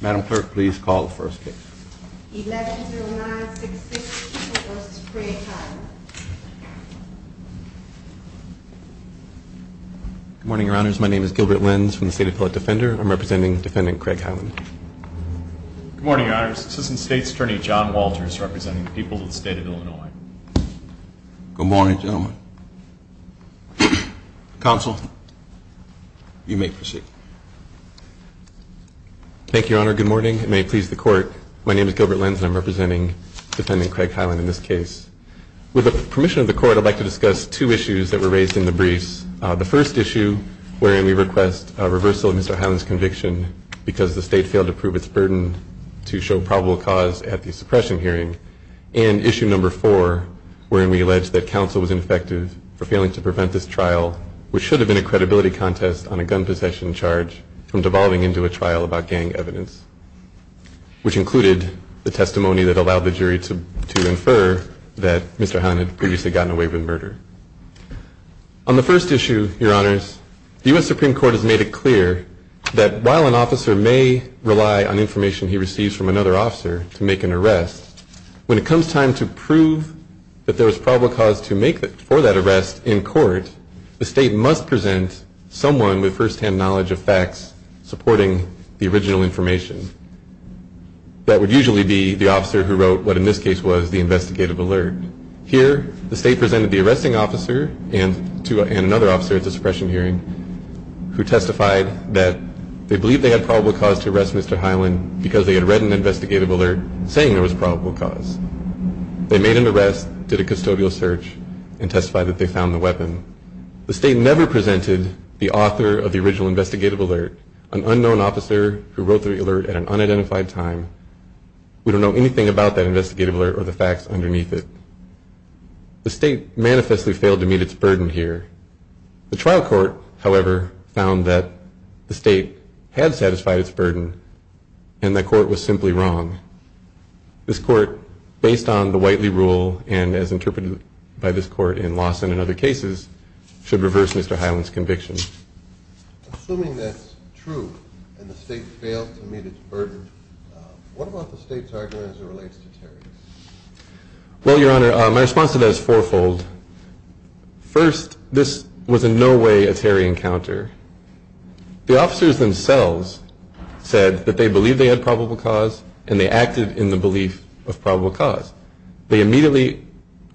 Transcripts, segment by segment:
Madam Clerk, please call the first case. Good morning, your honors. My name is Gilbert Lenz from the state of Philip Defender. I'm representing defendant Craig Hyland. Good morning, your honors. Assistant State Attorney John Walters representing the people of the state of Illinois. Good morning, gentlemen. Counsel, you may proceed. Thank you, your honor. Good morning. It may please the court. My name is Gilbert Lenz and I'm representing defendant Craig Hyland in this case. With the permission of the court, I'd like to discuss two issues that were raised in the briefs. The first issue wherein we request a reversal of Mr. Hyland's conviction because the state failed to prove its burden to show probable cause at the suppression hearing. And issue number four wherein we allege that counsel was ineffective for failing to prevent this trial, which should have been a credibility contest on a gun possession charge from devolving into a trial about gang evidence, which included the testimony that allowed the jury to infer that Mr. Hyland had previously gotten away with murder. On the first issue, your honors, the US Supreme Court has made it clear that while an officer may rely on information he receives from another officer to make an arrest, when it comes time to prove that there was probable cause for that arrest in court, the state must present someone with firsthand knowledge of facts supporting the original information. That would usually be the officer who wrote what in this case was the investigative alert. Here, the state presented the arresting officer and another officer at the suppression hearing who testified that they believed they had probable cause to arrest Mr. Hyland because they had read an investigative alert saying there was probable cause. They made an arrest, did a custodial search, and testified that they found the weapon. The state never presented the author of the original investigative alert, an unknown officer who wrote the alert at an unidentified time. We don't know anything about that investigative alert or the facts underneath it. The state manifestly failed to meet its burden here. The trial court, however, found that the wrong. This court, based on the Whiteley rule and as interpreted by this court in Lawson and other cases, should reverse Mr. Hyland's conviction. Assuming that's true and the state failed to meet its burden, what about the state's argument as it relates to Terry? Well, Your Honor, my response to that is fourfold. First, this was in no way a Terry encounter. The officers themselves said that they believed they had probable cause and they acted in the belief of probable cause. They immediately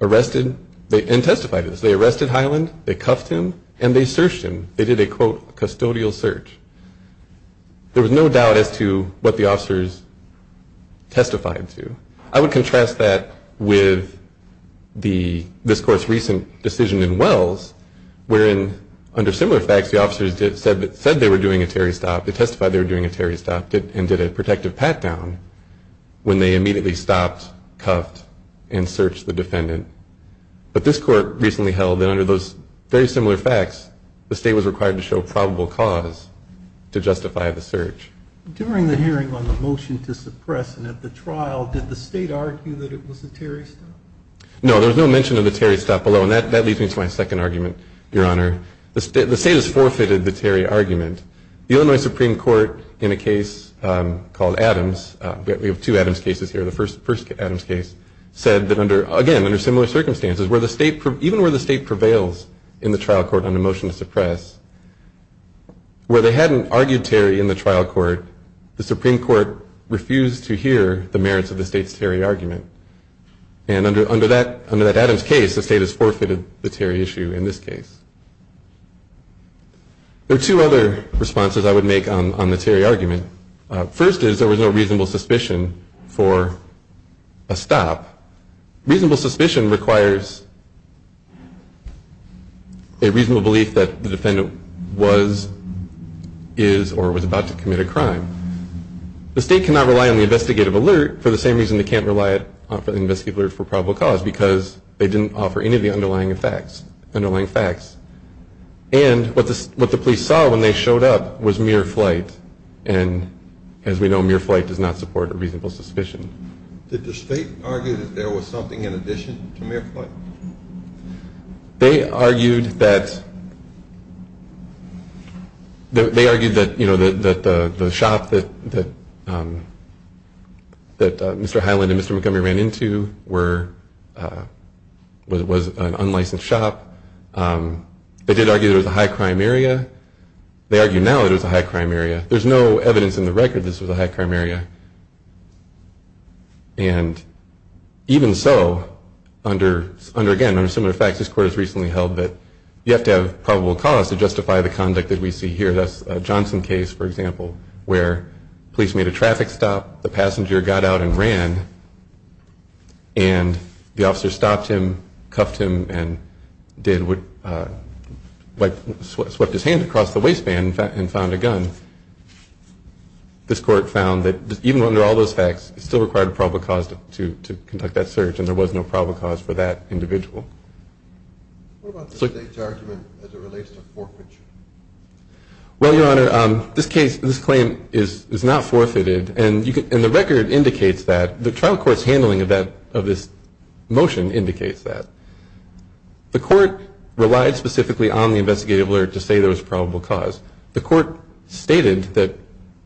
arrested and testified to this. They arrested Hyland, they cuffed him, and they searched him. They did a, quote, custodial search. There was no doubt as to what the officers testified to. I would contrast that with this court's recent decision in Wells, wherein under similar facts the state was required to show probable cause to justify the search. During the hearing on the motion to suppress and at the trial, did the state argue that it was a Terry stop? No, there was no mention of the Terry stop below, and that leads me to my second argument, Your Honor. The state has forfeited the Terry argument. The Illinois Supreme Court, in a case called Adams, we have two Adams cases here, the first Adams case, said that under, again, under similar circumstances, even where the state prevails in the trial court on a motion to suppress, where they hadn't argued Terry in the trial court, the Supreme Court refused to hear the merits of the state's Terry argument. And under that Adams case, the state has forfeited the Terry issue in this case. There are two other responses I would make on the Terry argument. First is there was no reasonable suspicion for a stop. Reasonable suspicion requires a reasonable belief that the defendant was, is, or was about to commit a crime. The state cannot rely on the investigative alert for the same reason they can't rely on the investigative alert for probable cause, because they didn't offer any of the underlying facts. And what the police saw when they showed up was mere flight, and as we know, mere flight does not support a reasonable suspicion. Did the state argue that there was something in addition to mere flight? They argued that, they argued that, you know, that the shop that Mr. Highland and Mr. Montgomery ran into were, was an unlicensed shop. They did argue that it was a high crime area. They argue now that it was a high crime area. There's no evidence in the record that this was a high crime area. And even so, under, under, again, under similar facts, this court has recently held that you have to have probable cause to justify the conduct that we see here. That's a Johnson case, for example, where police made a traffic stop, the passenger got out and ran, and the officer stopped him, cuffed him, and did what, uh, did what he had to do. He, like, swept his hand across the waistband and found a gun. This court found that even under all those facts, it still required a probable cause to, to conduct that search, and there was no probable cause for that individual. What about the state's argument as it relates to forfeiture? Well, Your Honor, um, this case, this claim is, is not forfeited, and you can, and the record indicates that. The trial court's handling of that, of this motion indicates that. The court relied specifically on the investigative alert to say there was probable cause. The court stated that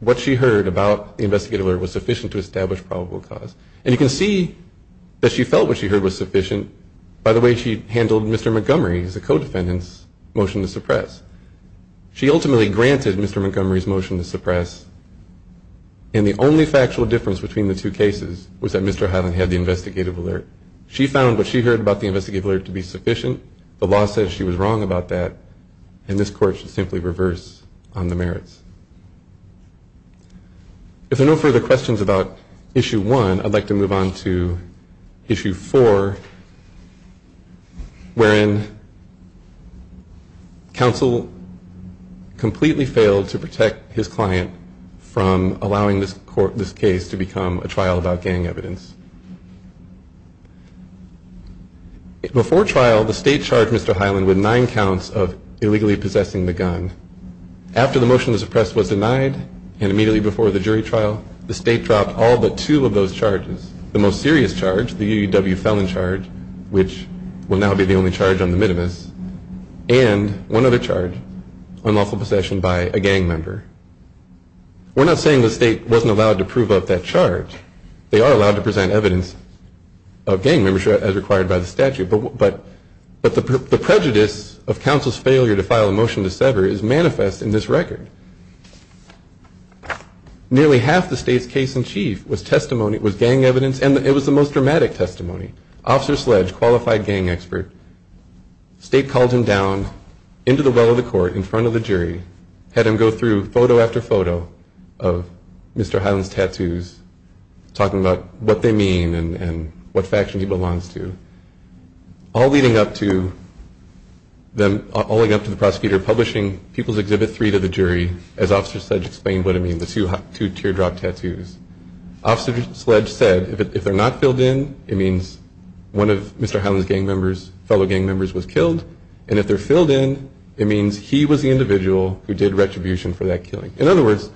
what she heard about the investigative alert was sufficient to establish probable cause. And you can see that she felt what she heard was sufficient by the way she handled Mr. Montgomery as a co-defendant's motion to suppress. She ultimately granted Mr. Montgomery's motion to suppress, and the only factual difference between the two cases was that Mr. Highland had the investigative alert. She found what she heard about the investigative alert to be sufficient. The law says she was wrong about that, and this court should simply reverse on the merits. If there are no further questions about Issue 1, I'd like to move on to Issue 4, wherein counsel completely failed to protect his client from allowing this court, this case to become a trial about gang evidence. Before trial, the state charged Mr. Highland with nine counts of illegally possessing the gun. After the motion to suppress was denied, and immediately before the jury trial, the state dropped all but two of those charges. The most serious charge, the UUW felon charge, which will now be the only charge on the minimus, and one other charge, unlawful possession by a gang member. We're not saying the state wasn't allowed to prove up that charge. They are allowed to present evidence of gang membership as required by the statute, but the prejudice of counsel's failure to file a motion to sever is manifest in this record. Nearly half the state's case in chief was testimony, was gang evidence, and it was the most dramatic testimony. Officer Sledge, qualified gang expert, state called him down into the well of the court in front of the jury, had him go through photo after photo of Mr. Highland's tattoos, talking about what they mean and what faction he belongs to. All leading up to the prosecutor publishing People's Exhibit 3 to the jury, as Officer Sledge explained what it means, the two teardrop tattoos. Officer Sledge said, if they're not filled in, it means one of Mr. Highland's gang members, fellow gang members was killed, and if they're filled in, it means he was the individual who did retribution for that killing. In other words,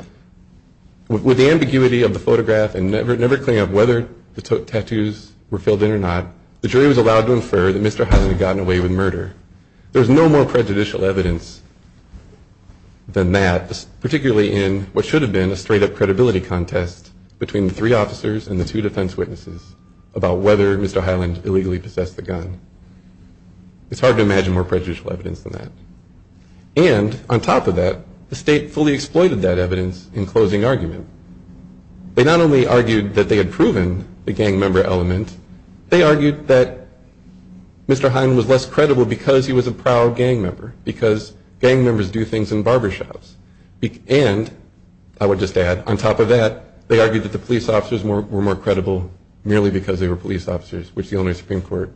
with the ambiguity of the photograph and never clearing up whether the tattoos were filled in or not, the jury was allowed to infer that Mr. Highland had gotten away with murder. There's no more prejudicial evidence than that, particularly in what should have been a straight-up credibility contest between the three officers and the two defense witnesses about whether Mr. Highland illegally possessed the gun. It's hard to imagine more prejudicial evidence than that. And on top of that, the state fully exploited that evidence in closing argument. They not only argued that they had proven the gang member element, they argued that Mr. Highland was less credible because he was a proud gang member, because gang members do things in barbershops. And, I would just add, on top of that, they argued that the police officers were more credible merely because they were police officers, which the Illinois Supreme Court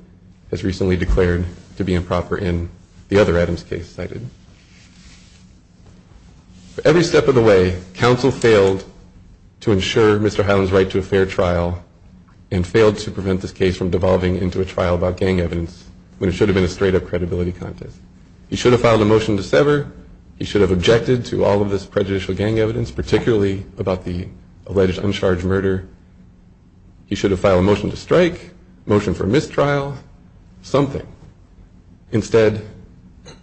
has recently declared to be improper in the other Adams case cited. Every step of the way, counsel failed to ensure Mr. Highland's right to a fair trial and failed to prevent this case from devolving into a trial about gang evidence when it should have been a straight-up credibility contest. He should have filed a motion to sever. He should have objected to all of this prejudicial gang evidence, particularly about the alleged uncharged murder. He should have filed a motion to strike, a motion for mistrial, something. Instead,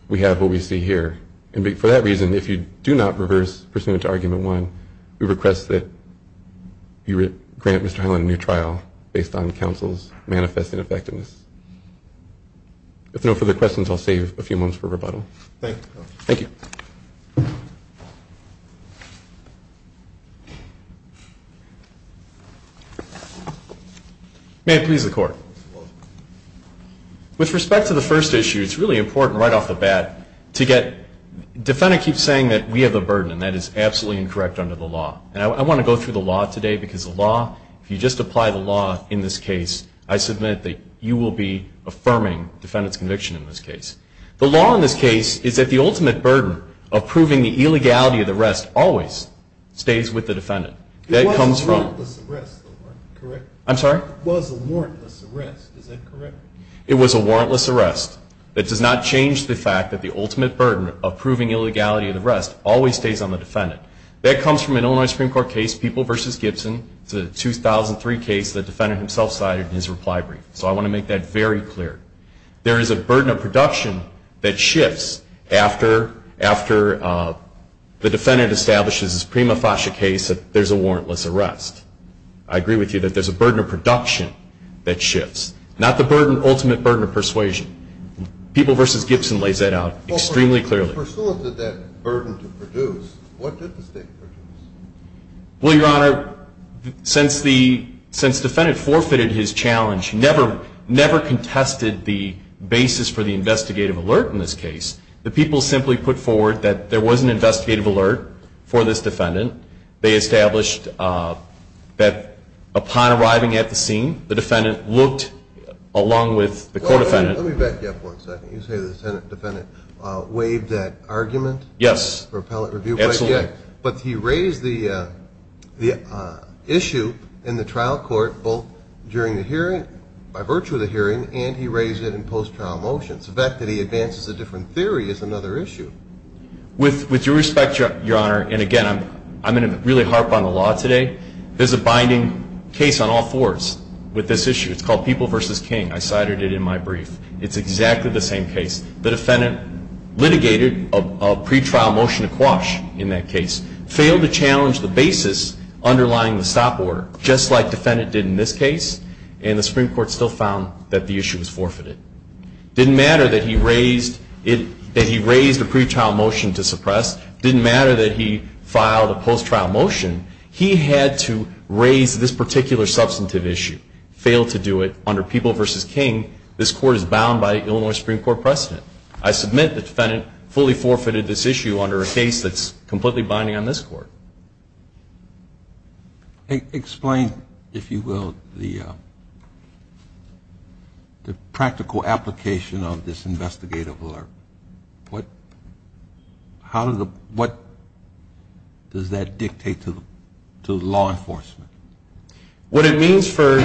we have what we see here. And for that reason, if you do not reverse pursuant to Argument 1, we request that you grant Mr. Highland a new trial based on counsel's manifest ineffectiveness. If there are no further questions, I'll save a few moments for rebuttal. Thank you. May it please the Court. With respect to the first issue, it's really important right off the bat to get... Defendant keeps saying that we have a burden, and that is absolutely incorrect under the law. And I want to go through the law today, because the law, if you just apply the law in this case, I submit that you will be affirming defendant's conviction in this case. The law in this case is that the ultimate burden of proving the illegality of the arrest always stays with the defendant. That comes from... I'm sorry? It was a warrantless arrest. Is that correct? It was a warrantless arrest. It does not change the fact that the ultimate burden of proving illegality of the arrest always stays on the defendant. That comes from an Illinois Supreme Court case, People v. Gibson. It's a 2003 case the defendant himself cited in his reply brief. So I want to make that very clear. There is a burden of production that shifts after the defendant establishes his prima facie case that there's a warrantless arrest. I agree with you that there's a burden of production that shifts, not the ultimate burden of persuasion. People v. Gibson lays that out extremely clearly. In pursuance of that burden to produce, what did the state produce? Well, Your Honor, since the defendant forfeited his challenge, never contested the basis for the investigative alert in this case, the people simply put forward that there was an investigative alert for this defendant. They established that upon arriving at the scene, the defendant looked along with the co-defendant... Yes, absolutely. But he raised the issue in the trial court both during the hearing, by virtue of the hearing, and he raised it in post-trial motions. The fact that he advances a different theory is another issue. With due respect, Your Honor, and again, I'm going to really harp on the law today, there's a binding case on all fours with this issue. It's called People v. King. I cited it in my brief. It's exactly the same case. The defendant litigated a pretrial motion to quash in that case, failed to challenge the basis underlying the stop order, just like the defendant did in this case, and the Supreme Court still found that the issue was forfeited. It didn't matter that he raised a pretrial motion to suppress. It didn't matter that he filed a post-trial motion. He had to raise this particular substantive issue, failed to do it under People v. King. This court is bound by Illinois Supreme Court precedent. I submit the defendant fully forfeited this issue under a case that's completely binding on this court. Explain, if you will, the practical application of this investigative alert. What does that dictate to law enforcement? What it means, for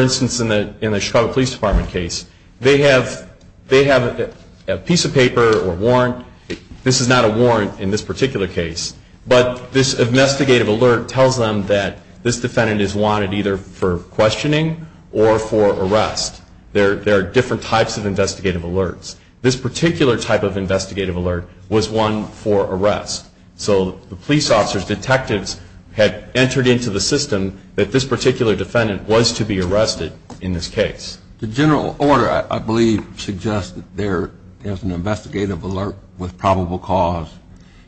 instance, in the Chicago Police Department case, they have a piece of paper or warrant. This is not a warrant in this particular case, but this investigative alert tells them that this defendant is wanted either for questioning or for arrest. There are different types of investigative alerts. This particular type of investigative alert was one for arrest. So the police officers, detectives, had entered into the system that this particular defendant was to be arrested in this case. The general order, I believe, suggests that there is an investigative alert with probable cause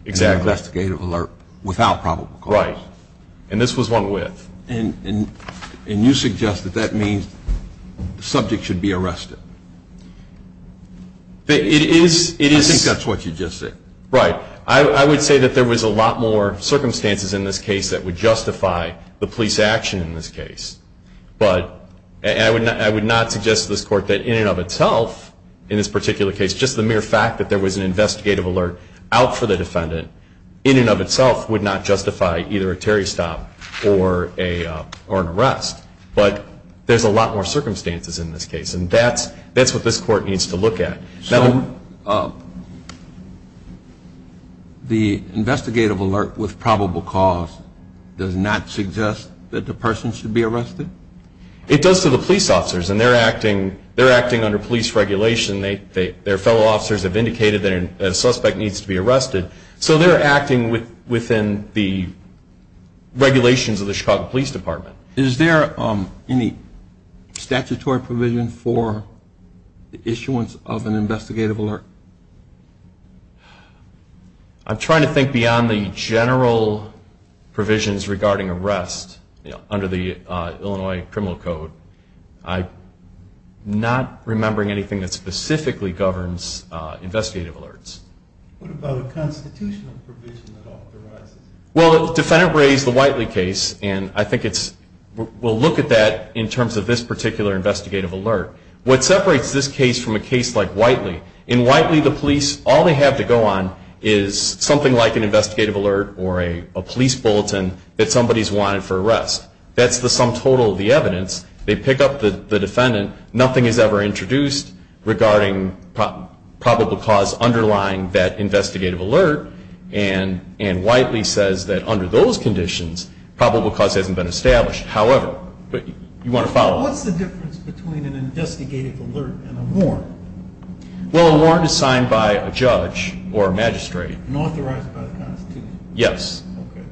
and an investigative alert without probable cause. Right. And this was one with. And you suggest that that means the subject should be arrested. It is. I think that's what you just said. Right. I would say that there was a lot more circumstances in this case that would justify the police action in this case. But I would not suggest to this court that in and of itself, in this particular case, just the mere fact that there was an investigative alert out for the defendant, in and of itself would not justify either a Terry stop or an arrest. But there's a lot more circumstances in this case, and that's what this court needs to look at. So the investigative alert with probable cause does not suggest that the person should be arrested? It does to the police officers, and they're acting under police regulation. Their fellow officers have indicated that a suspect needs to be arrested. So they're acting within the regulations of the Chicago Police Department. Is there any statutory provision for the issuance of an investigative alert? I'm trying to think beyond the general provisions regarding arrest under the Illinois Criminal Code. I'm not remembering anything that specifically governs investigative alerts. Well, Defendant Bray's the Whiteley case, and I think we'll look at that in terms of this particular investigative alert. What separates this case from a case like Whiteley, in Whiteley the police, all they have to go on is something like an investigative alert or a police bulletin that somebody's wanted for arrest. That's the sum total of the evidence. They pick up the defendant. Nothing is ever introduced regarding probable cause underlying that investigative alert. And Whiteley says that under those conditions, probable cause hasn't been established. However, you want to follow up. What's the difference between an investigative alert and a warrant? Well, a warrant is signed by a judge or a magistrate. And authorized by the Constitution? Yes. Okay.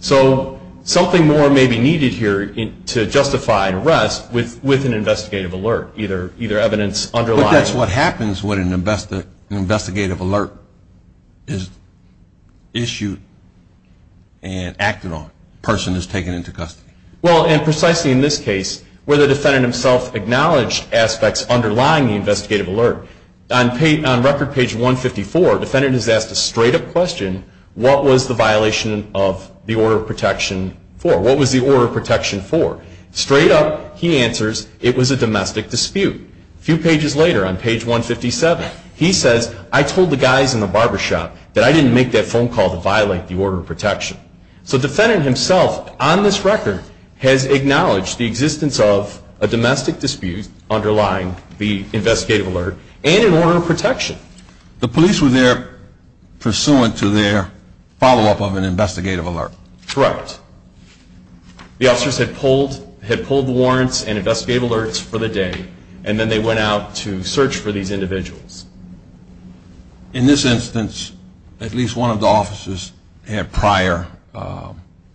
So something more may be needed here to justify an arrest with an investigative alert, either evidence underlying it. And that's what happens when an investigative alert is issued and acted on, a person is taken into custody. Well, and precisely in this case, where the defendant himself acknowledged aspects underlying the investigative alert, on record page 154, the defendant is asked a straight-up question, what was the violation of the order of protection for? What was the order of protection for? Straight up, he answers, it was a domestic dispute. A few pages later, on page 157, he says, I told the guys in the barbershop that I didn't make that phone call to violate the order of protection. So the defendant himself, on this record, has acknowledged the existence of a domestic dispute underlying the investigative alert and an order of protection. The police were there pursuant to their follow-up of an investigative alert. Correct. The officers had pulled the warrants and investigative alerts for the day, and then they went out to search for these individuals. In this instance, at least one of the officers had prior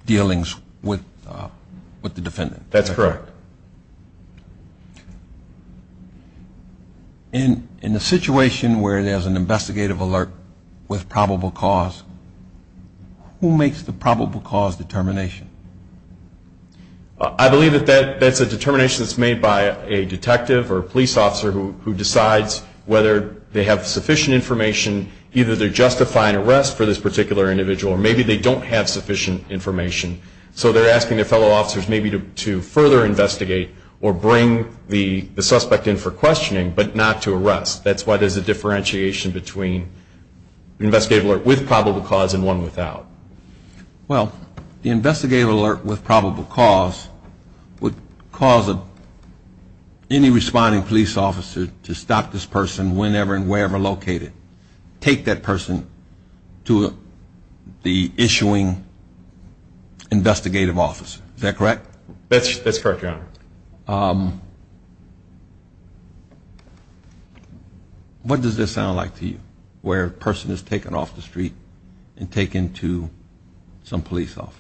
dealings with the defendant. That's correct. In the situation where there's an investigative alert with probable cause, who makes the probable cause determination? I believe that that's a determination that's made by a detective or a police officer who decides whether they have sufficient information, either they're justifying arrest for this particular individual, or maybe they don't have sufficient information. So they're asking their fellow officers maybe to further investigate or bring the suspect in for questioning, but not to arrest. That's why there's a differentiation between an investigative alert with probable cause and one without. Well, the investigative alert with probable cause would cause any responding police officer to stop this person whenever and wherever located, take that person to the issuing investigative officer. Is that correct? That's correct, Your Honor. What does this sound like to you, where a person is taken off the street and taken to some police office?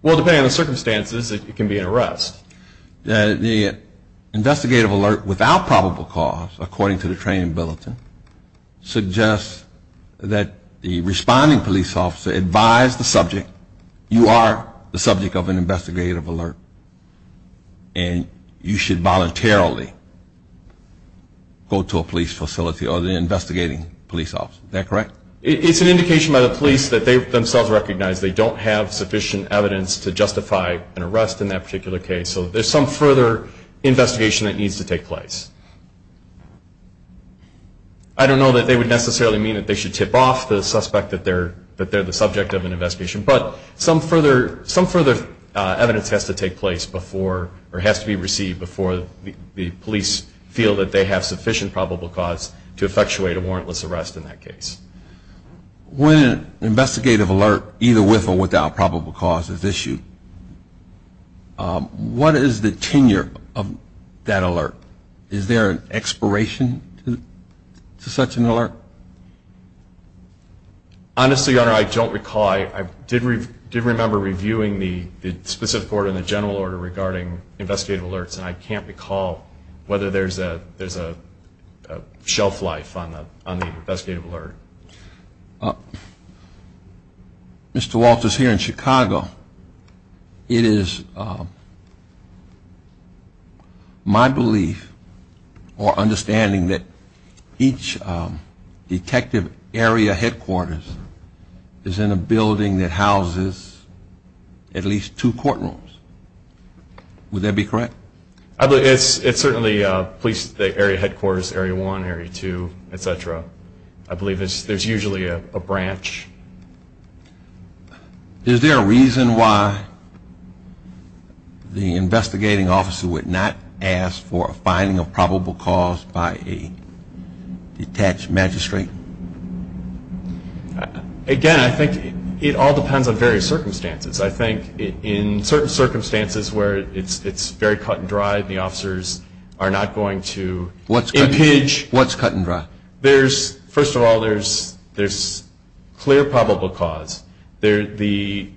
Well, depending on the circumstances, it can be an arrest. The investigative alert without probable cause, according to the training bulletin, suggests that the responding police officer advised the subject, you are the subject of an investigative alert, and you should voluntarily go to a police facility or the investigating police officer. Is that correct? It's an indication by the police that they themselves recognize they don't have sufficient evidence to justify an arrest in that particular case. So there's some further investigation that needs to take place. I don't know that they would necessarily mean that they should tip off the suspect that they're the subject of an investigation, but some further evidence has to take place before or has to be received before the police feel that they have sufficient probable cause to effectuate a warrantless arrest in that case. When an investigative alert, either with or without probable cause, is issued, what is the tenure of that alert? Is there an expiration to such an alert? Honestly, Your Honor, I don't recall. I did remember reviewing the specific order and the general order regarding investigative alerts, and I can't recall whether there's a shelf life on the investigative alert. Mr. Walters, here in Chicago, it is my belief or understanding that each detective area headquarters is in a building that houses at least two courtrooms. Would that be correct? It's certainly police area headquarters, area one, area two, et cetera. I believe there's usually a branch. Is there a reason why the investigating officer would not ask for a finding of probable cause by a detached magistrate? Again, I think it all depends on various circumstances. I think in certain circumstances where it's very cut and dry, the officers are not going to impinge. What's cut and dry? First of all, there's clear probable cause. The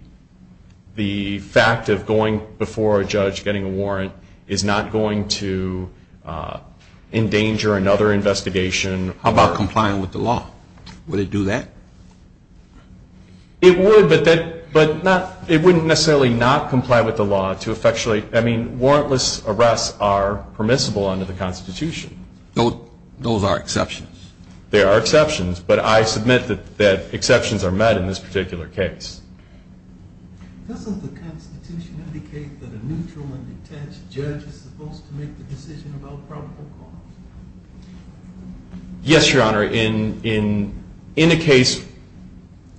fact of going before a judge, getting a warrant, is not going to endanger another investigation. How about complying with the law? Would it do that? It would, but it wouldn't necessarily not comply with the law to effectually, I mean, warrantless arrests are permissible under the Constitution. Those are exceptions. They are exceptions, but I submit that exceptions are met in this particular case. Doesn't the Constitution indicate that a neutral and detached judge is supposed to make the decision about probable cause? Yes, Your Honor. In a case,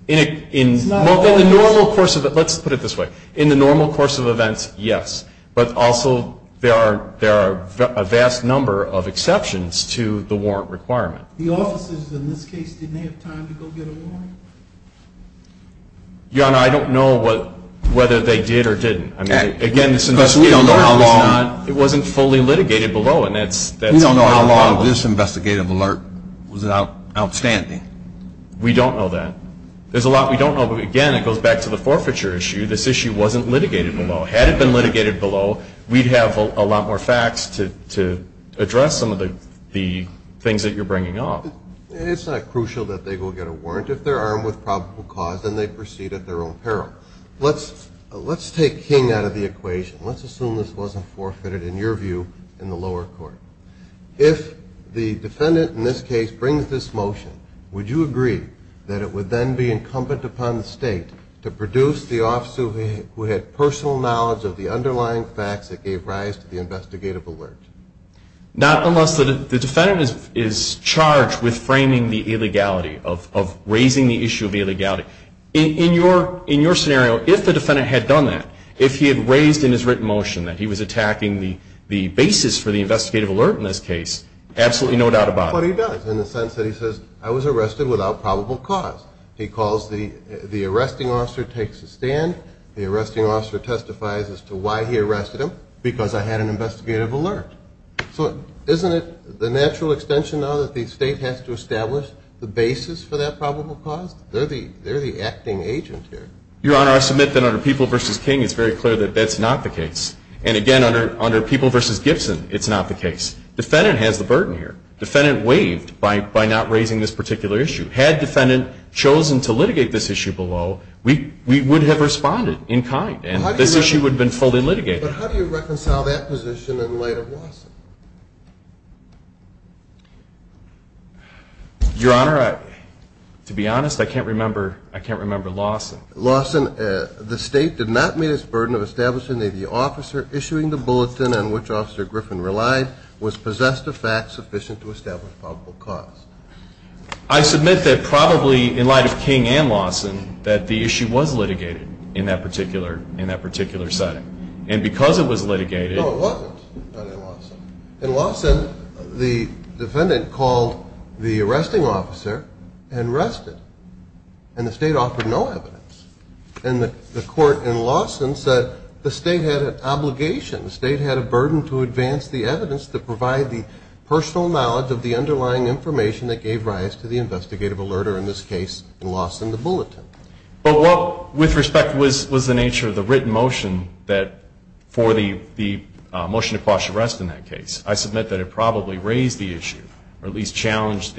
in the normal course of it, let's put it this way, in the normal course of events, yes, but also there are a vast number of exceptions to the warrant requirement. The officers in this case didn't have time to go get a warrant? Your Honor, I don't know whether they did or didn't. Again, this is a case where the warrant was not, it wasn't fully litigated below, and that's not true. How long of this investigative alert was outstanding? We don't know that. There's a lot we don't know, but again, it goes back to the forfeiture issue. This issue wasn't litigated below. Had it been litigated below, we'd have a lot more facts to address some of the things that you're bringing up. It's not crucial that they go get a warrant. If they're armed with probable cause, then they proceed at their own peril. Let's take King out of the equation. Let's assume this wasn't forfeited, in your view, in the lower court. If the defendant in this case brings this motion, would you agree that it would then be incumbent upon the state to produce the officer who had personal knowledge of the underlying facts that gave rise to the investigative alert? Not unless the defendant is charged with framing the illegality, of raising the issue of illegality. In your scenario, if the defendant had done that, if he had raised in his written motion that he was attacking the basis for the investigative alert in this case, absolutely no doubt about it. But he does, in the sense that he says, I was arrested without probable cause. He calls the arresting officer, takes a stand. The arresting officer testifies as to why he arrested him, because I had an investigative alert. So isn't it the natural extension now that the state has to establish the basis for that probable cause? They're the acting agent here. Your Honor, I submit that under People v. King, it's very clear that that's not the case. And again, under People v. Gibson, it's not the case. Defendant has the burden here. Defendant waived by not raising this particular issue. Had defendant chosen to litigate this issue below, we would have responded in kind, and this issue would have been fully litigated. But how do you reconcile that position in light of Lawson? Your Honor, to be honest, I can't remember Lawson. Lawson, the state did not meet its burden of establishing that the officer issuing the bulletin on which Officer Griffin relied was possessed of facts sufficient to establish probable cause. I submit that probably in light of King and Lawson, that the issue was litigated in that particular setting. And because it was litigated. No, it wasn't, under Lawson. In Lawson, the defendant called the arresting officer and rested, and the state offered no evidence. And the court in Lawson said the state had an obligation, the state had a burden to advance the evidence to provide the personal knowledge of the underlying information that gave rise to the investigative alert, or in this case, in Lawson, the bulletin. But what, with respect, was the nature of the written motion for the motion to cause arrest in that case? I submit that it probably raised the issue, or at least challenged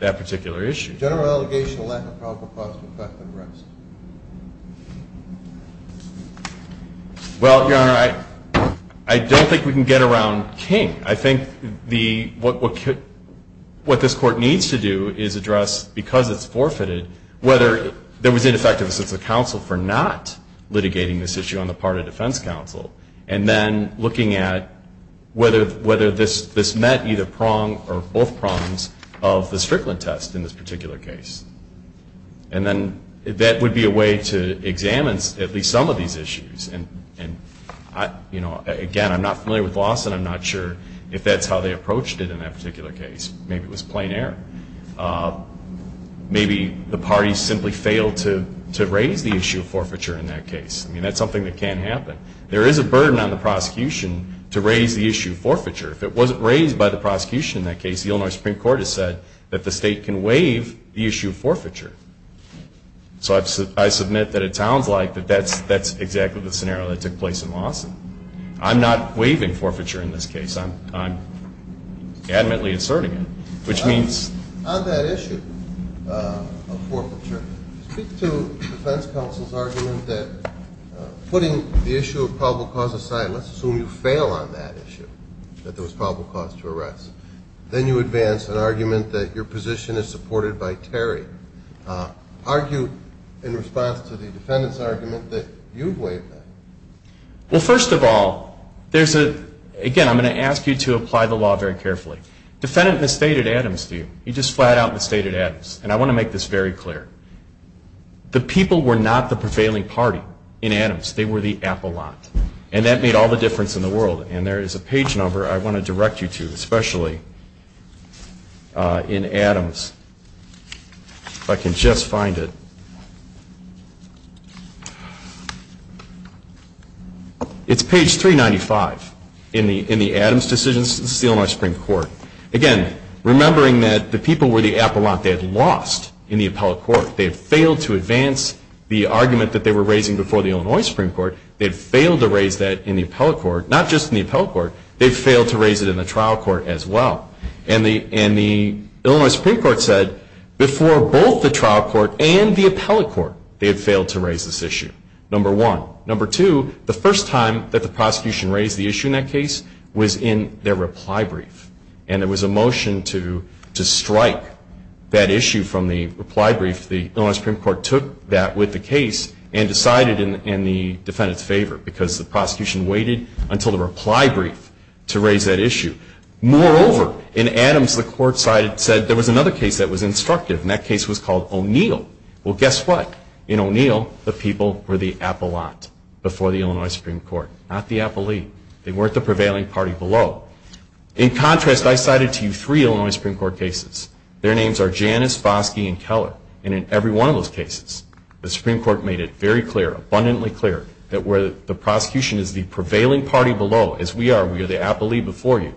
that particular issue. General allegation of lack of probable cause to effect an arrest. Well, Your Honor, I don't think we can get around King. I think what this court needs to do is address, because it's forfeited, whether there was ineffectiveness of the counsel for not litigating this issue on the part of defense counsel, and then looking at whether this met either prong or both prongs of the Strickland test in this particular case. And then that would be a way to examine at least some of these issues. And, you know, again, I'm not familiar with Lawson. I'm not sure if that's how they approached it in that particular case. Maybe it was plain error. Maybe the parties simply failed to raise the issue of forfeiture in that case. I mean, that's something that can happen. There is a burden on the prosecution to raise the issue of forfeiture. If it wasn't raised by the prosecution in that case, the Illinois Supreme Court has said that the state can waive the issue of forfeiture. So I submit that it sounds like that that's exactly the scenario that took place in Lawson. I'm not waiving forfeiture in this case. I'm adamantly asserting it, which means. On that issue of forfeiture, speak to defense counsel's argument that putting the issue of probable cause aside, let's assume you fail on that issue, that there was probable cause to arrest. Then you advance an argument that your position is supported by Terry. Argue in response to the defendant's argument that you've waived that. Well, first of all, there's a, again, I'm going to ask you to apply the law very carefully. Defendant misstated Adams to you. He just flat out misstated Adams. And I want to make this very clear. The people were not the prevailing party in Adams. They were the apple lot. And that made all the difference in the world. And there is a page number I want to direct you to, especially in Adams, if I can just find it. It's page 395 in the Adams decision. This is the Illinois Supreme Court. Again, remembering that the people were the apple lot. They had lost in the appellate court. They had failed to advance the argument that they were raising before the Illinois Supreme Court. They had failed to raise that in the appellate court. Not just in the appellate court. They failed to raise it in the trial court as well. And the Illinois Supreme Court said, before both the trial court and the appellate court, they had failed to raise this issue, number one. Number two, the first time that the prosecution raised the issue in that case was in their reply brief. And there was a motion to strike that issue from the reply brief. The Illinois Supreme Court took that with the case and decided in the defendant's favor because the prosecution waited until the reply brief to raise that issue. Moreover, in Adams, the court said there was another case that was instructive, and that case was called O'Neill. Well, guess what? In O'Neill, the people were the apple lot before the Illinois Supreme Court, not the appellee. They weren't the prevailing party below. In contrast, I cited to you three Illinois Supreme Court cases. Their names are Janus, Foskey, and Keller. And in every one of those cases, the Supreme Court made it very clear, abundantly clear, that where the prosecution is the prevailing party below, as we are, we are the appellee before you,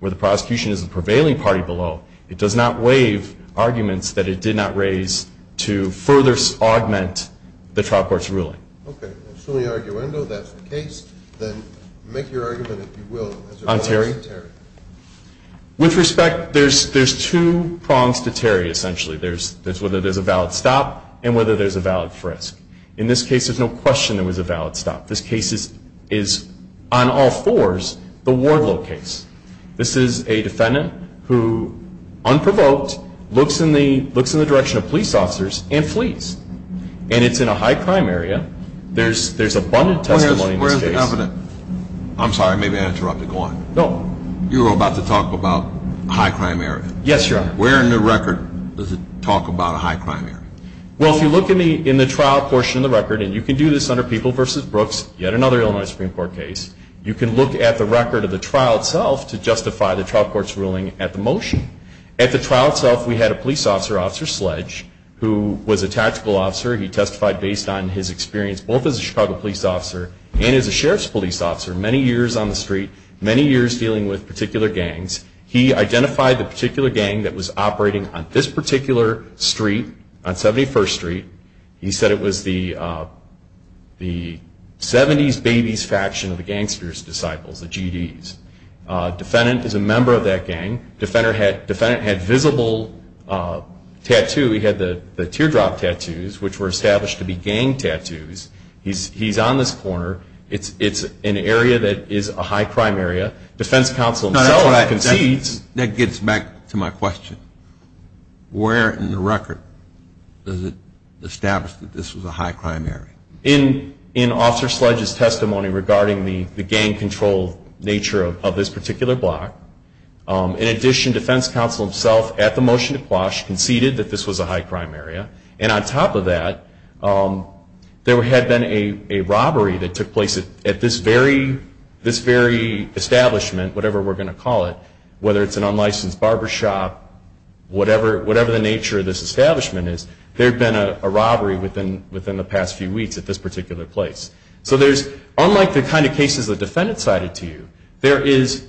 where the prosecution is the prevailing party below, it does not waive arguments that it did not raise to further augment the trial court's ruling. Okay. So in the arguendo, that's the case. Then make your argument, if you will, as it applies to Terry. With respect, there's two prongs to Terry, essentially. There's whether there's a valid stop and whether there's a valid frisk. In this case, there's no question there was a valid stop. This case is, on all fours, the Wardlow case. This is a defendant who, unprovoked, looks in the direction of police officers and flees. And it's in a high-crime area. There's abundant testimony in this case. Where's the evidence? I'm sorry. I may have interrupted. Go on. You were about to talk about a high-crime area. Yes, Your Honor. Where in the record does it talk about a high-crime area? Well, if you look in the trial portion of the record, and you can do this under People v. Brooks, yet another Illinois Supreme Court case, you can look at the record of the trial itself to justify the trial court's ruling at the motion. At the trial itself, we had a police officer, Officer Sledge, who was a tactical officer. He testified based on his experience both as a Chicago police officer and as a sheriff's police officer, many years on the street, many years dealing with particular gangs. He identified the particular gang that was operating on this particular street, on 71st Street. He said it was the 70s Babies faction of the Gangster's Disciples, the GDs. Defendant is a member of that gang. Defendant had visible tattoos. He had the teardrop tattoos, which were established to be gang tattoos. He's on this corner. It's an area that is a high-crime area. Defense counsel himself concedes. That gets back to my question. Where in the record does it establish that this was a high-crime area? In Officer Sledge's testimony regarding the gang control nature of this particular block. In addition, defense counsel himself, at the motion to quash, conceded that this was a high-crime area. And on top of that, there had been a robbery that took place at this very establishment, whatever we're going to call it, whether it's an unlicensed barbershop, whatever the nature of this establishment is, there had been a robbery within the past few weeks at this particular place. So unlike the kind of cases the defendant cited to you, there is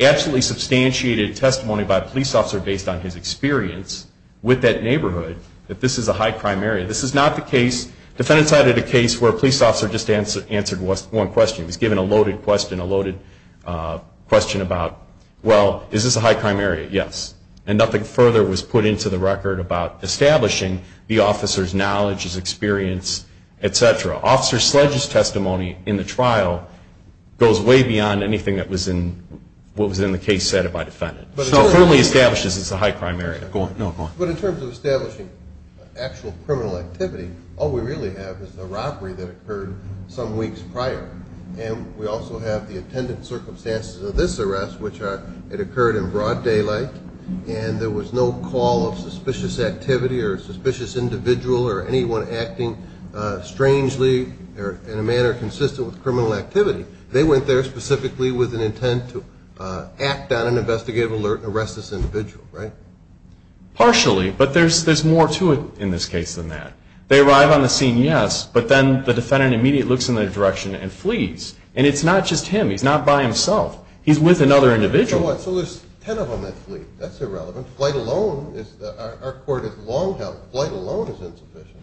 absolutely substantiated testimony by a police officer based on his experience with that neighborhood that this is a high-crime area. This is not the case. The defendant cited a case where a police officer just answered one question. He was given a loaded question, a loaded question about, well, is this a high-crime area? Yes. And nothing further was put into the record about establishing the officer's knowledge, his experience, et cetera. Officer Sledge's testimony in the trial goes way beyond anything that was in the case said by the defendant. So it only establishes it's a high-crime area. Go on. But in terms of establishing actual criminal activity, all we really have is the robbery that occurred some weeks prior. And we also have the attendant circumstances of this arrest, which are it occurred in broad daylight and there was no call of suspicious activity or suspicious individual or anyone acting strangely or in a manner consistent with criminal activity. They went there specifically with an intent to act on an investigative alert and arrest this individual, right? Partially, but there's more to it in this case than that. They arrive on the scene, yes, but then the defendant immediately looks in their direction and flees. And it's not just him. He's not by himself. He's with another individual. So what? So there's 10 of them that flee. That's irrelevant. Flight alone is, our court has long held, flight alone is insufficient.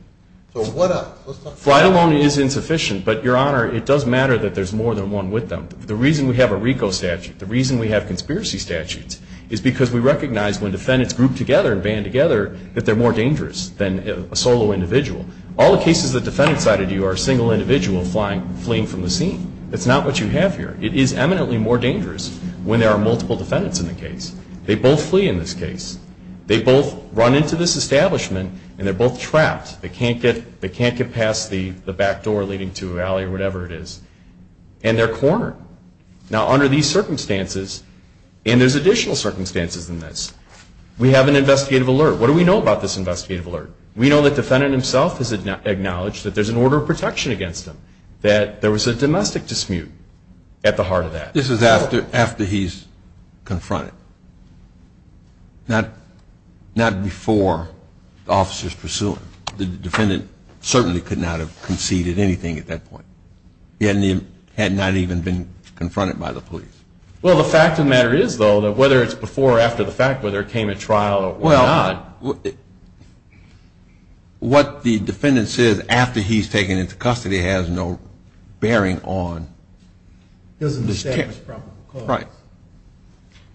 So what of it? Flight alone is insufficient, but, Your Honor, it does matter that there's more than one with them. The reason we have a RICO statute, the reason we have conspiracy statutes, is because we recognize when defendants group together and band together that they're more dangerous than a solo individual. All the cases the defendant cited you are a single individual fleeing from the scene. It's not what you have here. It is eminently more dangerous when there are multiple defendants in the case. They both flee in this case. They both run into this establishment, and they're both trapped. They can't get past the back door leading to a valley or whatever it is. And they're cornered. Now, under these circumstances, and there's additional circumstances in this, we have an investigative alert. What do we know about this investigative alert? We know the defendant himself has acknowledged that there's an order of protection against them, that there was a domestic dispute at the heart of that. This is after he's confronted, not before the officer's pursuing. The defendant certainly could not have conceded anything at that point. He had not even been confronted by the police. Well, the fact of the matter is, though, that whether it's before or after the fact, whether it came at trial or what not, what the defendant says after he's taken into custody has no bearing on this case. Right.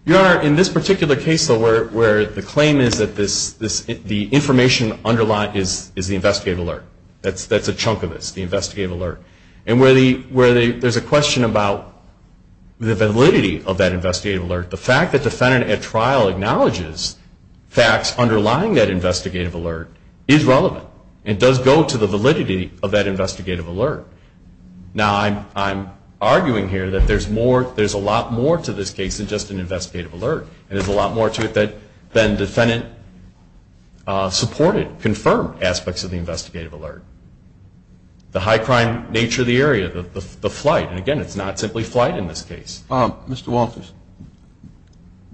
Your Honor, in this particular case, though, where the claim is that the information underlined is the investigative alert. That's a chunk of this, the investigative alert. And where there's a question about the validity of that investigative alert, the fact that the defendant at trial acknowledges facts underlying that investigative alert is relevant and does go to the validity of that investigative alert. Now, I'm arguing here that there's a lot more to this case than just an investigative alert. There's a lot more to it than defendant supported, confirmed aspects of the investigative alert. The high crime nature of the area, the flight, and again, it's not simply flight in this case. Mr. Walters,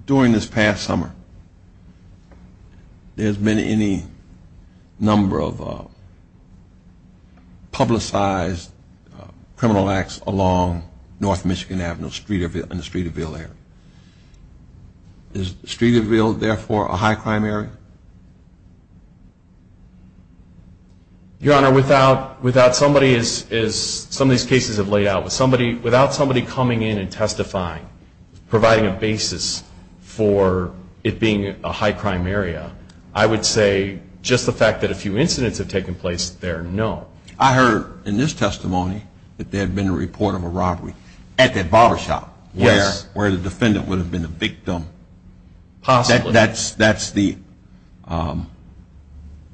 during this past summer, there's been any number of publicized criminal acts along North Michigan Avenue in the Streeterville area. Is Streeterville, therefore, a high crime area? Your Honor, without somebody as some of these cases have laid out, without somebody coming in and testifying, providing a basis for it being a high crime area, I would say just the fact that a few incidents have taken place there, no. I heard in this testimony that there had been a report of a robbery at that barbershop where the defendant would have been the victim. Possibly. That's the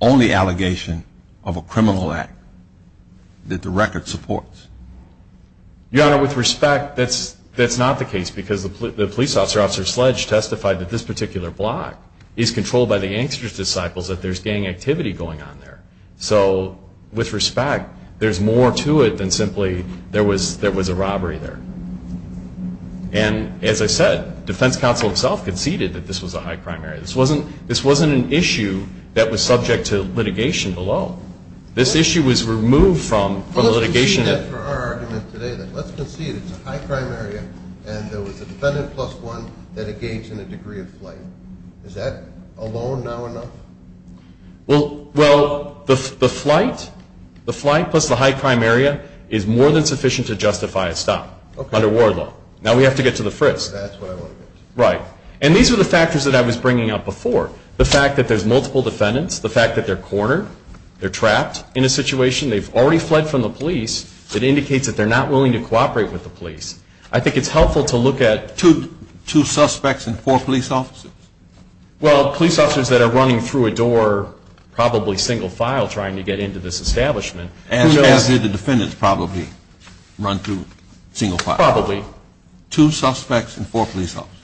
only allegation of a criminal act that the record supports. Your Honor, with respect, that's not the case, because the police officer, Officer Sledge, testified that this particular block is controlled by the there's more to it than simply there was a robbery there. And as I said, defense counsel himself conceded that this was a high crime area. This wasn't an issue that was subject to litigation alone. This issue was removed from litigation. Let's concede that for our argument today, that let's concede it's a high crime area and there was a defendant plus one that engaged in a degree of flight. Is that alone now enough? Well, the flight plus the high crime area is more than sufficient to justify a stop under war law. Now we have to get to the frisk. That's what I want to get to. Right. And these are the factors that I was bringing up before. The fact that there's multiple defendants. The fact that they're cornered. They're trapped in a situation. They've already fled from the police. It indicates that they're not willing to cooperate with the police. I think it's helpful to look at Two suspects and four police officers. Well, police officers that are running through a door probably single file trying to get into this establishment. As did the defendants probably run through single file. Probably. Two suspects and four police officers.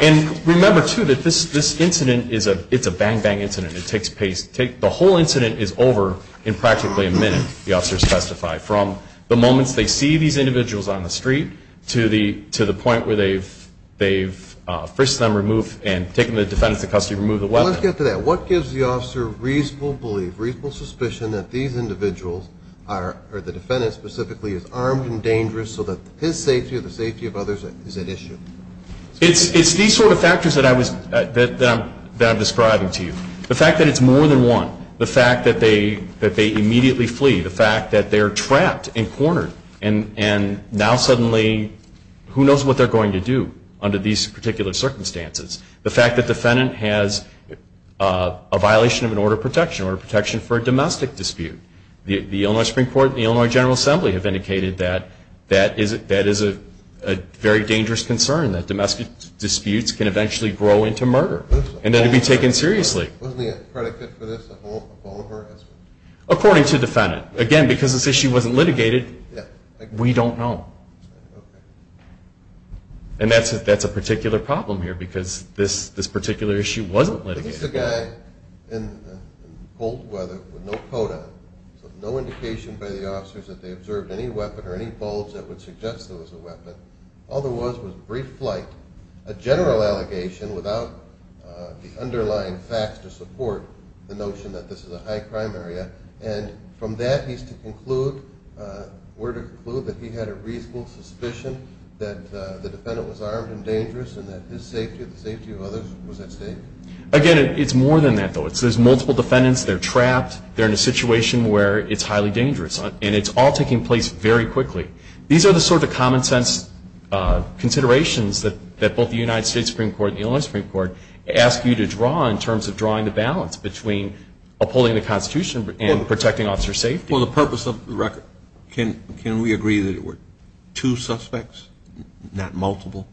And remember, too, that this incident is a bang-bang incident. The whole incident is over in practically a minute, the officers testified, from the moments they see these individuals on the street to the point where they've frisked them and taken the defendants into custody and removed the weapon. Well, let's get to that. What gives the officer reasonable belief, reasonable suspicion, that these individuals or the defendant specifically is armed and dangerous so that his safety or the safety of others is at issue? It's these sort of factors that I'm describing to you. The fact that it's more than one. The fact that they immediately flee. The fact that they're trapped and cornered and now suddenly who knows what they're going to do under these particular circumstances. The fact that the defendant has a violation of an order of protection, an order of protection for a domestic dispute. The Illinois Supreme Court and the Illinois General Assembly have indicated that that is a very dangerous concern, that domestic disputes can eventually grow into murder and then be taken seriously. Wasn't he a predicate for this, a follower? According to the defendant. Again, because this issue wasn't litigated, we don't know. And that's a particular problem here because this particular issue wasn't litigated. He's a guy in cold weather with no coat on, so no indication by the officers that they observed any weapon or any bulge that would suggest there was a weapon. All there was was brief flight, a general allegation without the underlying facts to support the notion that this is a high crime area. And from that, we're to conclude that he had a reasonable suspicion that the defendant was armed and dangerous and that his safety or the safety of others was at stake. Again, it's more than that, though. There's multiple defendants. They're trapped. They're in a situation where it's highly dangerous. And it's all taking place very quickly. These are the sort of common-sense considerations that both the United States Supreme Court and the Illinois Supreme Court ask you to draw in terms of drawing the balance between upholding the Constitution and protecting officer safety. For the purpose of the record, can we agree that it were two suspects, not multiple?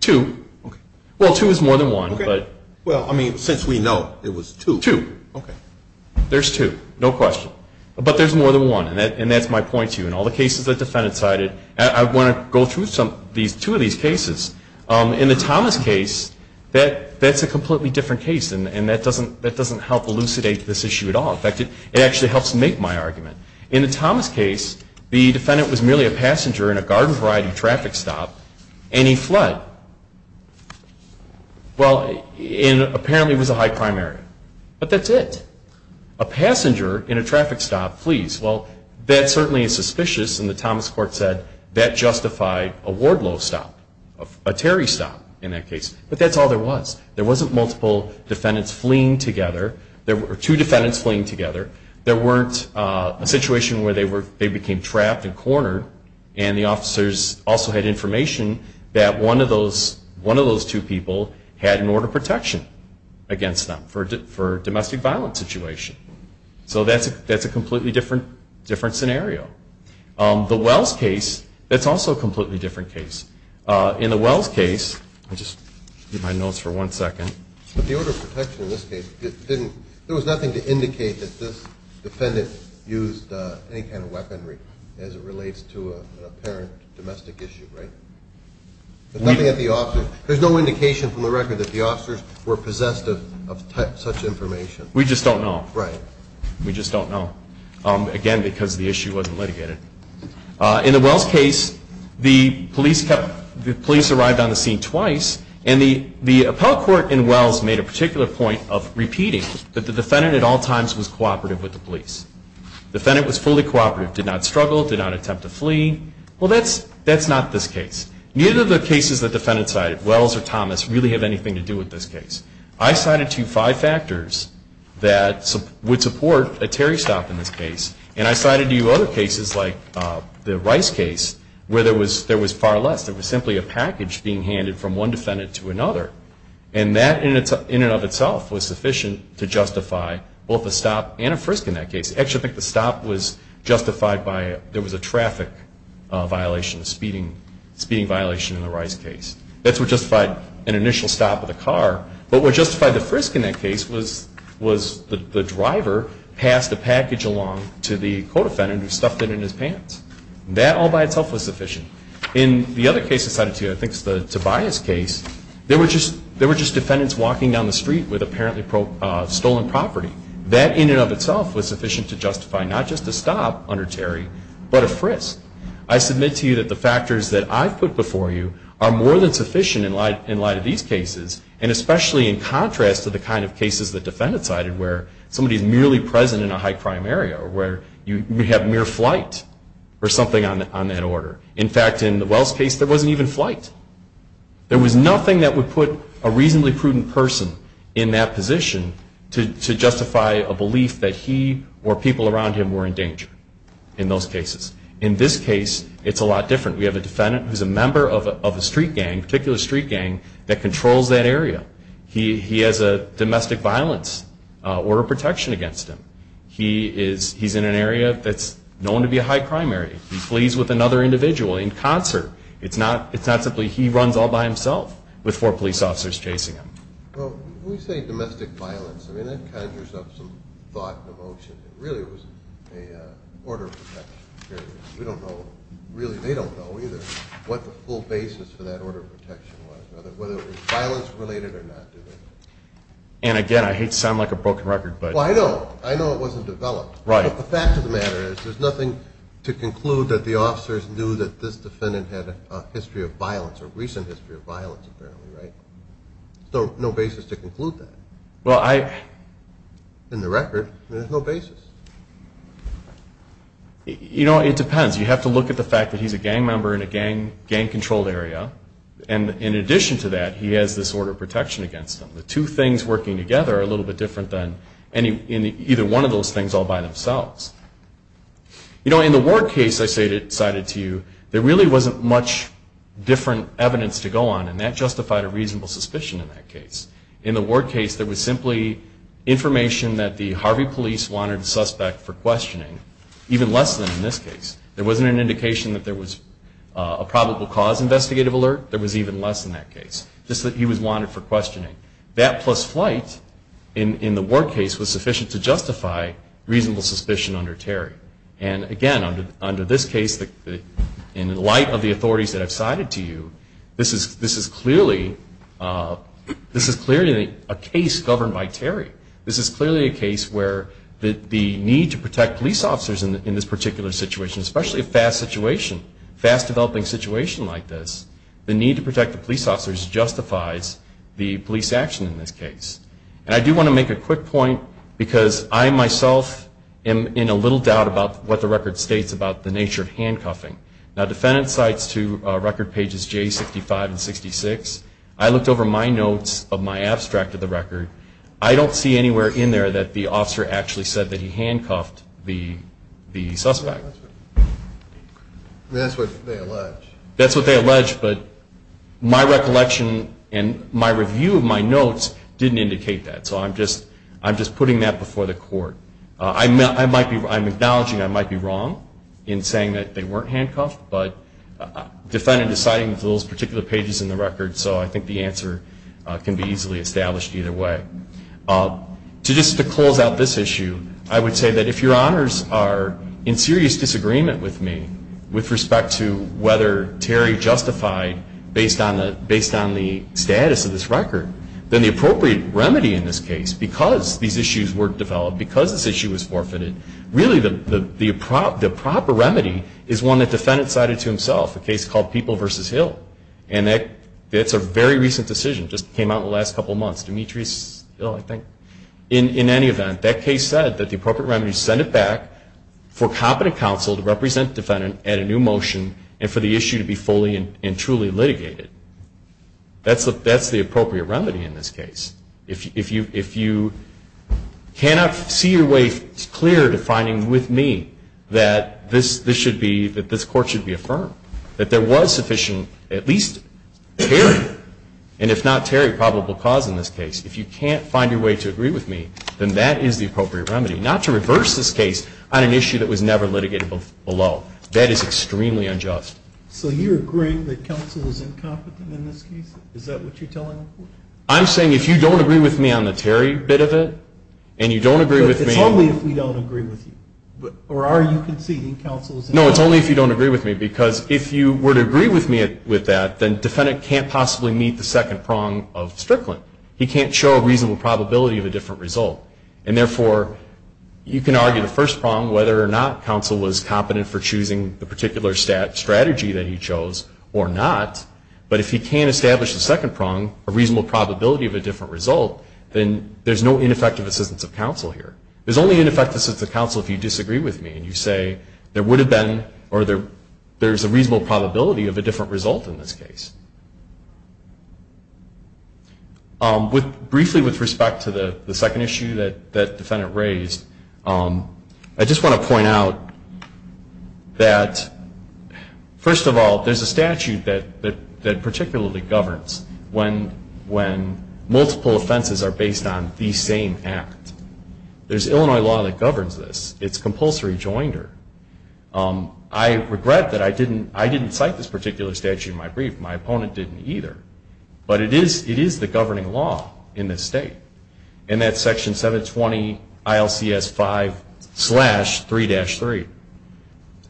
Two. Okay. Well, two is more than one. Okay. Well, I mean, since we know it was two. Two. Okay. There's two. No question. But there's more than one, and that's my point to you. In all the cases the defendant cited, I want to go through two of these cases. In the Thomas case, that's a completely different case, and that doesn't help elucidate this issue at all. In fact, it actually helps make my argument. In the Thomas case, the defendant was merely a passenger in a garden-variety traffic stop, and he fled. Well, and apparently it was a high-crime area. But that's it. A passenger in a traffic stop flees. Well, that certainly is suspicious, and the Thomas court said that justified a Wardlow stop, a Terry stop in that case. But that's all there was. There wasn't multiple defendants fleeing together. There were two defendants fleeing together. There weren't a situation where they became trapped and cornered, and the officers also had information that one of those two people had an order of protection against them for a domestic violence situation. So that's a completely different scenario. The Wells case, that's also a completely different case. In the Wells case, I'll just get my notes for one second. But the order of protection in this case, there was nothing to indicate that this defendant used any kind of weaponry as it relates to an apparent domestic issue, right? There's no indication from the record that the officers were possessed of such information. We just don't know. Right. We just don't know, again, because the issue wasn't litigated. In the Wells case, the police arrived on the scene twice, and the appellate court in Wells made a particular point of repeating that the defendant at all times was cooperative with the police. The defendant was fully cooperative, did not struggle, did not attempt to flee. Well, that's not this case. Neither of the cases the defendant cited, Wells or Thomas, really have anything to do with this case. I cited to you five factors that would support a Terry stop in this case, and I cited to you other cases like the Rice case where there was far less. There was simply a package being handed from one defendant to another, and that in and of itself was sufficient to justify both a stop and a frisk in that case. Actually, I think the stop was justified by there was a traffic violation, a speeding violation in the Rice case. That's what justified an initial stop of the car. But what justified the frisk in that case was the driver passed a package along to the co-defendant who stuffed it in his pants. That all by itself was sufficient. In the other case I cited to you, I think it's the Tobias case, there were just defendants walking down the street with apparently stolen property. That in and of itself was sufficient to justify not just a stop under Terry, but a frisk. I submit to you that the factors that I've put before you are more than sufficient in light of these cases, and especially in contrast to the kind of cases that defendants cited where somebody is merely present in a high-crime area, or where you have mere flight or something on that order. In fact, in the Wells case, there wasn't even flight. There was nothing that would put a reasonably prudent person in that position to justify a belief that he or people around him were in danger in those cases. In this case, it's a lot different. We have a defendant who's a member of a street gang, a particular street gang, that controls that area. He has a domestic violence order of protection against him. He's in an area that's known to be a high-crime area. He flees with another individual in concert. It's not simply he runs all by himself with four police officers chasing him. When we say domestic violence, that conjures up some thought and emotion. It really was an order of protection. We don't know, really they don't know either, what the full basis for that order of protection was, whether it was violence-related or not. Again, I hate to sound like a broken record. Well, I know. I know it wasn't developed. But the fact of the matter is there's nothing to conclude that the officers knew that this defendant had a history of violence or recent history of violence, apparently, right? There's no basis to conclude that. In the record, there's no basis. You know, it depends. You have to look at the fact that he's a gang member in a gang-controlled area. And in addition to that, he has this order of protection against him. The two things working together are a little bit different than either one of those things all by themselves. You know, in the Ward case I cited to you, there really wasn't much different evidence to go on, and that justified a reasonable suspicion in that case. In the Ward case, there was simply information that the Harvey police wanted a suspect for questioning, even less than in this case. There wasn't an indication that there was a probable cause investigative alert. There was even less in that case, just that he was wanted for questioning. That plus flight in the Ward case was sufficient to justify reasonable suspicion under Terry. And, again, under this case, in light of the authorities that I've cited to you, this is clearly a case governed by Terry. This is clearly a case where the need to protect police officers in this particular situation, especially a fast situation, fast-developing situation like this, the need to protect the police officers justifies the police action in this case. And I do want to make a quick point because I myself am in a little doubt about what the record states about the nature of handcuffing. Now, defendant cites to record pages J65 and 66. I looked over my notes of my abstract of the record. I don't see anywhere in there that the officer actually said that he handcuffed the suspect. That's what they allege. That's what they allege, but my recollection and my review of my notes didn't indicate that. So I'm just putting that before the court. I'm acknowledging I might be wrong in saying that they weren't handcuffed, but defendant is citing those particular pages in the record, so I think the answer can be easily established either way. Just to close out this issue, I would say that if Your Honors are in serious disagreement with me with respect to whether Terry justified based on the status of this record, then the appropriate remedy in this case, because these issues were developed, because this issue was forfeited, really the proper remedy is one that defendant cited to himself, a case called People v. Hill. And that's a very recent decision. It just came out in the last couple of months. Demetrius Hill, I think. In any event, that case said that the appropriate remedy is to send it back for competent counsel to represent the defendant at a new motion and for the issue to be fully and truly litigated. That's the appropriate remedy in this case. If you cannot see your way clear to finding with me that this court should be affirmed, that there was sufficient, at least Terry, and if not Terry, probable cause in this case, if you can't find your way to agree with me, then that is the appropriate remedy. Not to reverse this case on an issue that was never litigated below. That is extremely unjust. So you're agreeing that counsel is incompetent in this case? Is that what you're telling the court? I'm saying if you don't agree with me on the Terry bit of it, and you don't agree with me on the It's only if we don't agree with you. Or are you conceding counsel is incompetent? No, it's only if you don't agree with me, because if you were to agree with me with that, then the defendant can't possibly meet the second prong of Strickland. He can't show a reasonable probability of a different result. And therefore, you can argue the first prong whether or not counsel was competent for choosing the particular strategy that he chose or not. But if he can't establish the second prong, a reasonable probability of a different result, then there's no ineffective assistance of counsel here. There's only ineffective assistance of counsel if you disagree with me and you say there would have been or there's a reasonable probability of a different result in this case. Briefly with respect to the second issue that the defendant raised, I just want to point out that, first of all, there's a statute that particularly governs when multiple offenses are based on the same act. There's Illinois law that governs this. It's compulsory joinder. I regret that I didn't cite this particular statute in my brief. My opponent didn't either. But it is the governing law in this state. And that's Section 720 ILCS 5-3-3.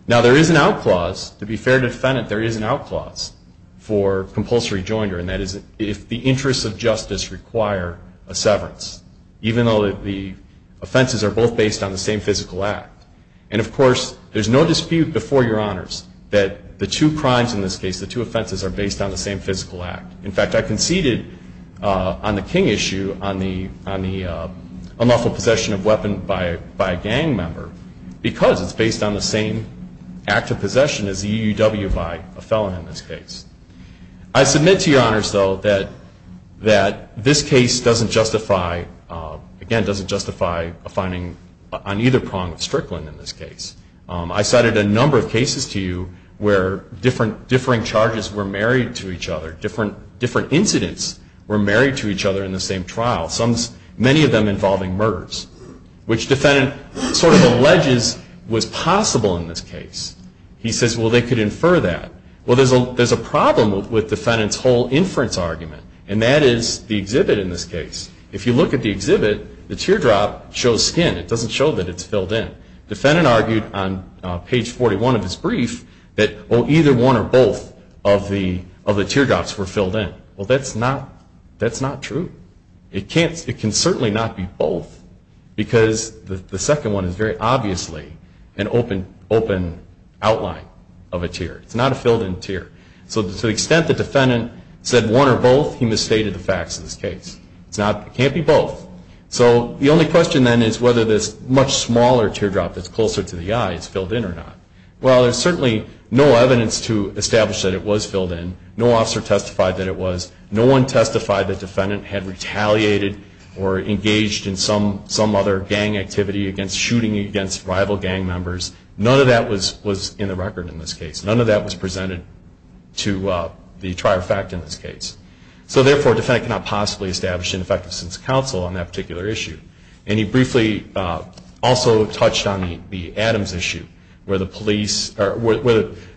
Now, there is an out clause. To be fair to the defendant, there is an out clause for compulsory joinder, and that is if the interests of justice require a severance. Even though the offenses are both based on the same physical act. And, of course, there's no dispute before Your Honors that the two crimes in this case, the two offenses, are based on the same physical act. In fact, I conceded on the King issue on the unlawful possession of a weapon by a gang member because it's based on the same act of possession as the UUW by a felon in this case. I submit to Your Honors, though, that this case doesn't justify, again, doesn't justify a finding on either prong of Strickland in this case. I cited a number of cases to you where differing charges were married to each other, different incidents were married to each other in the same trial, many of them involving murders, which the defendant sort of alleges was possible in this case. He says, well, they could infer that. Well, there's a problem with the defendant's whole inference argument, and that is the exhibit in this case. If you look at the exhibit, the teardrop shows skin. It doesn't show that it's filled in. The defendant argued on page 41 of his brief that either one or both of the teardrops were filled in. Well, that's not true. It can certainly not be both because the second one is very obviously an open outline of a tear. It's not a filled-in tear. So to the extent the defendant said one or both, he misstated the facts of this case. It can't be both. So the only question then is whether this much smaller teardrop that's closer to the eye is filled in or not. Well, there's certainly no evidence to establish that it was filled in. No officer testified that it was. No one testified the defendant had retaliated or engaged in some other gang activity against shooting against rival gang members. None of that was in the record in this case. None of that was presented to the trier of fact in this case. So, therefore, a defendant cannot possibly establish an effective sense of counsel on that particular issue. And he briefly also touched on the Adams issue where the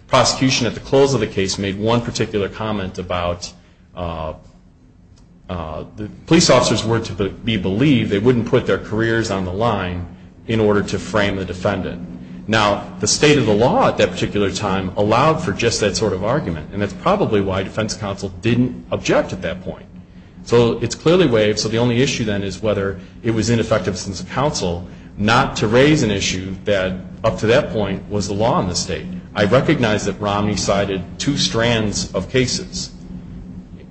prosecution at the close of the case made one particular comment about police officers were to be believed, they wouldn't put their careers on the line in order to frame the defendant. Now, the state of the law at that particular time allowed for just that sort of argument. And that's probably why defense counsel didn't object at that point. So it's clearly waived. So the only issue then is whether it was ineffective sense of counsel not to raise an issue that up to that point was the law in this state. I recognize that Romney cited two strands of cases.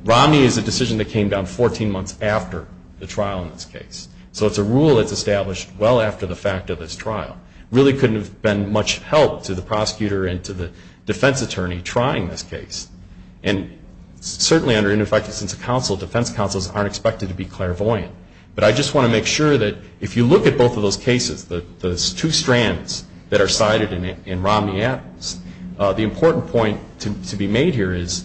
Romney is a decision that came down 14 months after the trial in this case. So it's a rule that's established well after the fact of this trial. Really couldn't have been much help to the prosecutor and to the defense attorney trying this case. And certainly under ineffective sense of counsel, defense counsels aren't expected to be clairvoyant. But I just want to make sure that if you look at both of those cases, those two strands that are cited in Romney Adams, the important point to be made here is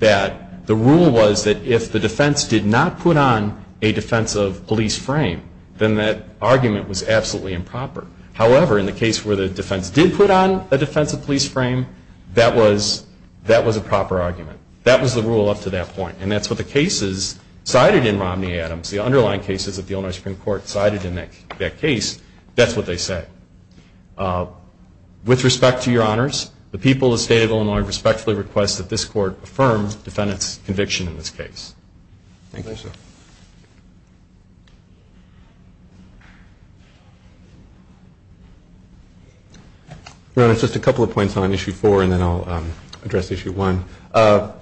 that the rule was that if the defense did not put on a defensive police frame, then that argument was absolutely improper. However, in the case where the defense did put on a defensive police frame, that was a proper argument. That was the rule up to that point. And that's what the cases cited in Romney Adams, the underlying cases that the Illinois Supreme Court cited in that case, that's what they said. With respect to your honors, the people of the state of Illinois respectfully request that this court affirm defendant's conviction in this case. Thank you. Your honors, just a couple of points on issue four and then I'll address issue one. The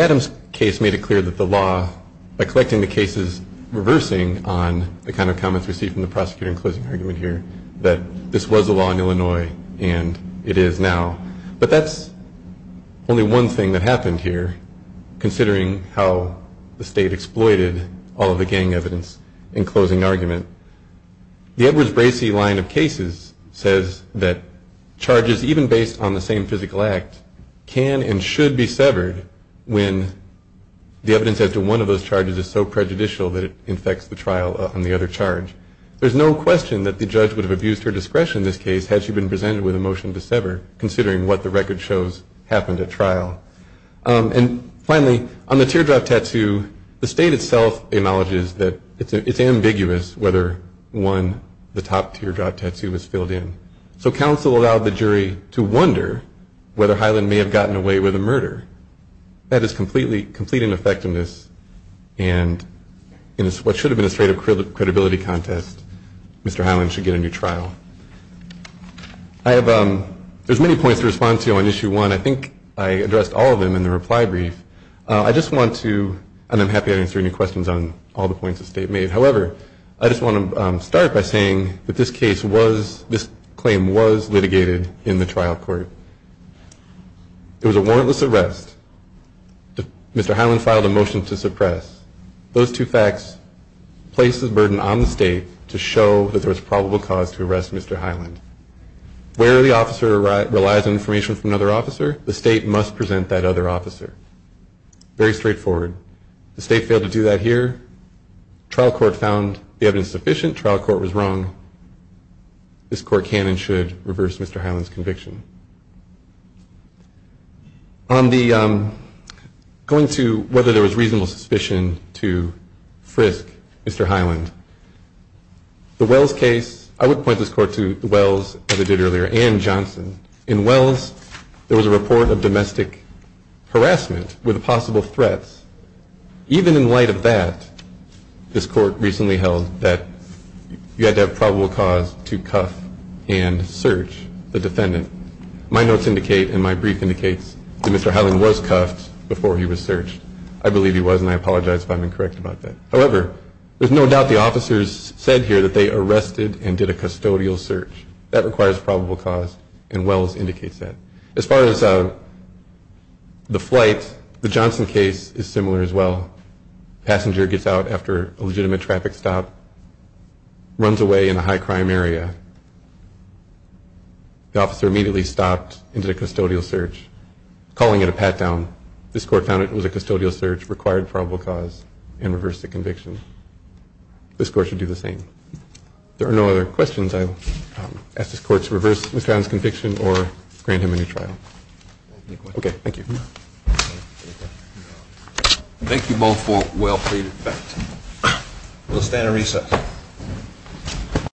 Adams case made it clear that the law, by collecting the cases, reversing on the kind of comments received from the prosecutor in closing argument here, that this was a law in Illinois and it is now. But that's only one thing that happened here, considering how the state exploited all of the gang evidence in closing argument. The Edwards-Bracey line of cases says that charges, even based on the same physical act, can and should be severed when the evidence as to one of those charges is so prejudicial that it infects the trial on the other charge. There's no question that the judge would have abused her discretion in this case had she been presented with a motion to sever, considering what the record shows happened at trial. And finally, on the teardrop tattoo, the state itself acknowledges that it's ambiguous whether, one, the top teardrop tattoo was filled in. So counsel allowed the jury to wonder whether Highland may have gotten away with a murder. That is complete ineffectiveness, and in what should have been a straight up credibility contest, Mr. Highland should get a new trial. There's many points to respond to on issue one. I think I addressed all of them in the reply brief. I just want to, and I'm happy to answer any questions on all the points the state made. However, I just want to start by saying that this case was, this claim was litigated in the trial court. It was a warrantless arrest. Mr. Highland filed a motion to suppress. Those two facts place a burden on the state to show that there was probable cause to arrest Mr. Highland. Where the officer relies on information from another officer, the state must present that other officer. Very straightforward. The state failed to do that here. Trial court found the evidence sufficient. Trial court was wrong. This court can and should reverse Mr. Highland's conviction. On the, going to whether there was reasonable suspicion to frisk Mr. Highland, the Wells case, I would point this court to the Wells as I did earlier and Johnson. In Wells, there was a report of domestic harassment with possible threats. Even in light of that, this court recently held that you had to have probable cause to cuff and search the defendant. My notes indicate and my brief indicates that Mr. Highland was cuffed before he was searched. I believe he was, and I apologize if I'm incorrect about that. However, there's no doubt the officers said here that they arrested and did a custodial search. That requires probable cause, and Wells indicates that. As far as the flight, the Johnson case is similar as well. Passenger gets out after a legitimate traffic stop, runs away in a high-crime area. The officer immediately stopped and did a custodial search, calling it a pat-down. This court found it was a custodial search, required probable cause, and reversed the conviction. This court should do the same. If there are no other questions, I ask this court to reverse Mr. Highland's conviction or grant him a new trial. Okay, thank you. Thank you both for well-paid effect. We'll stand and recess.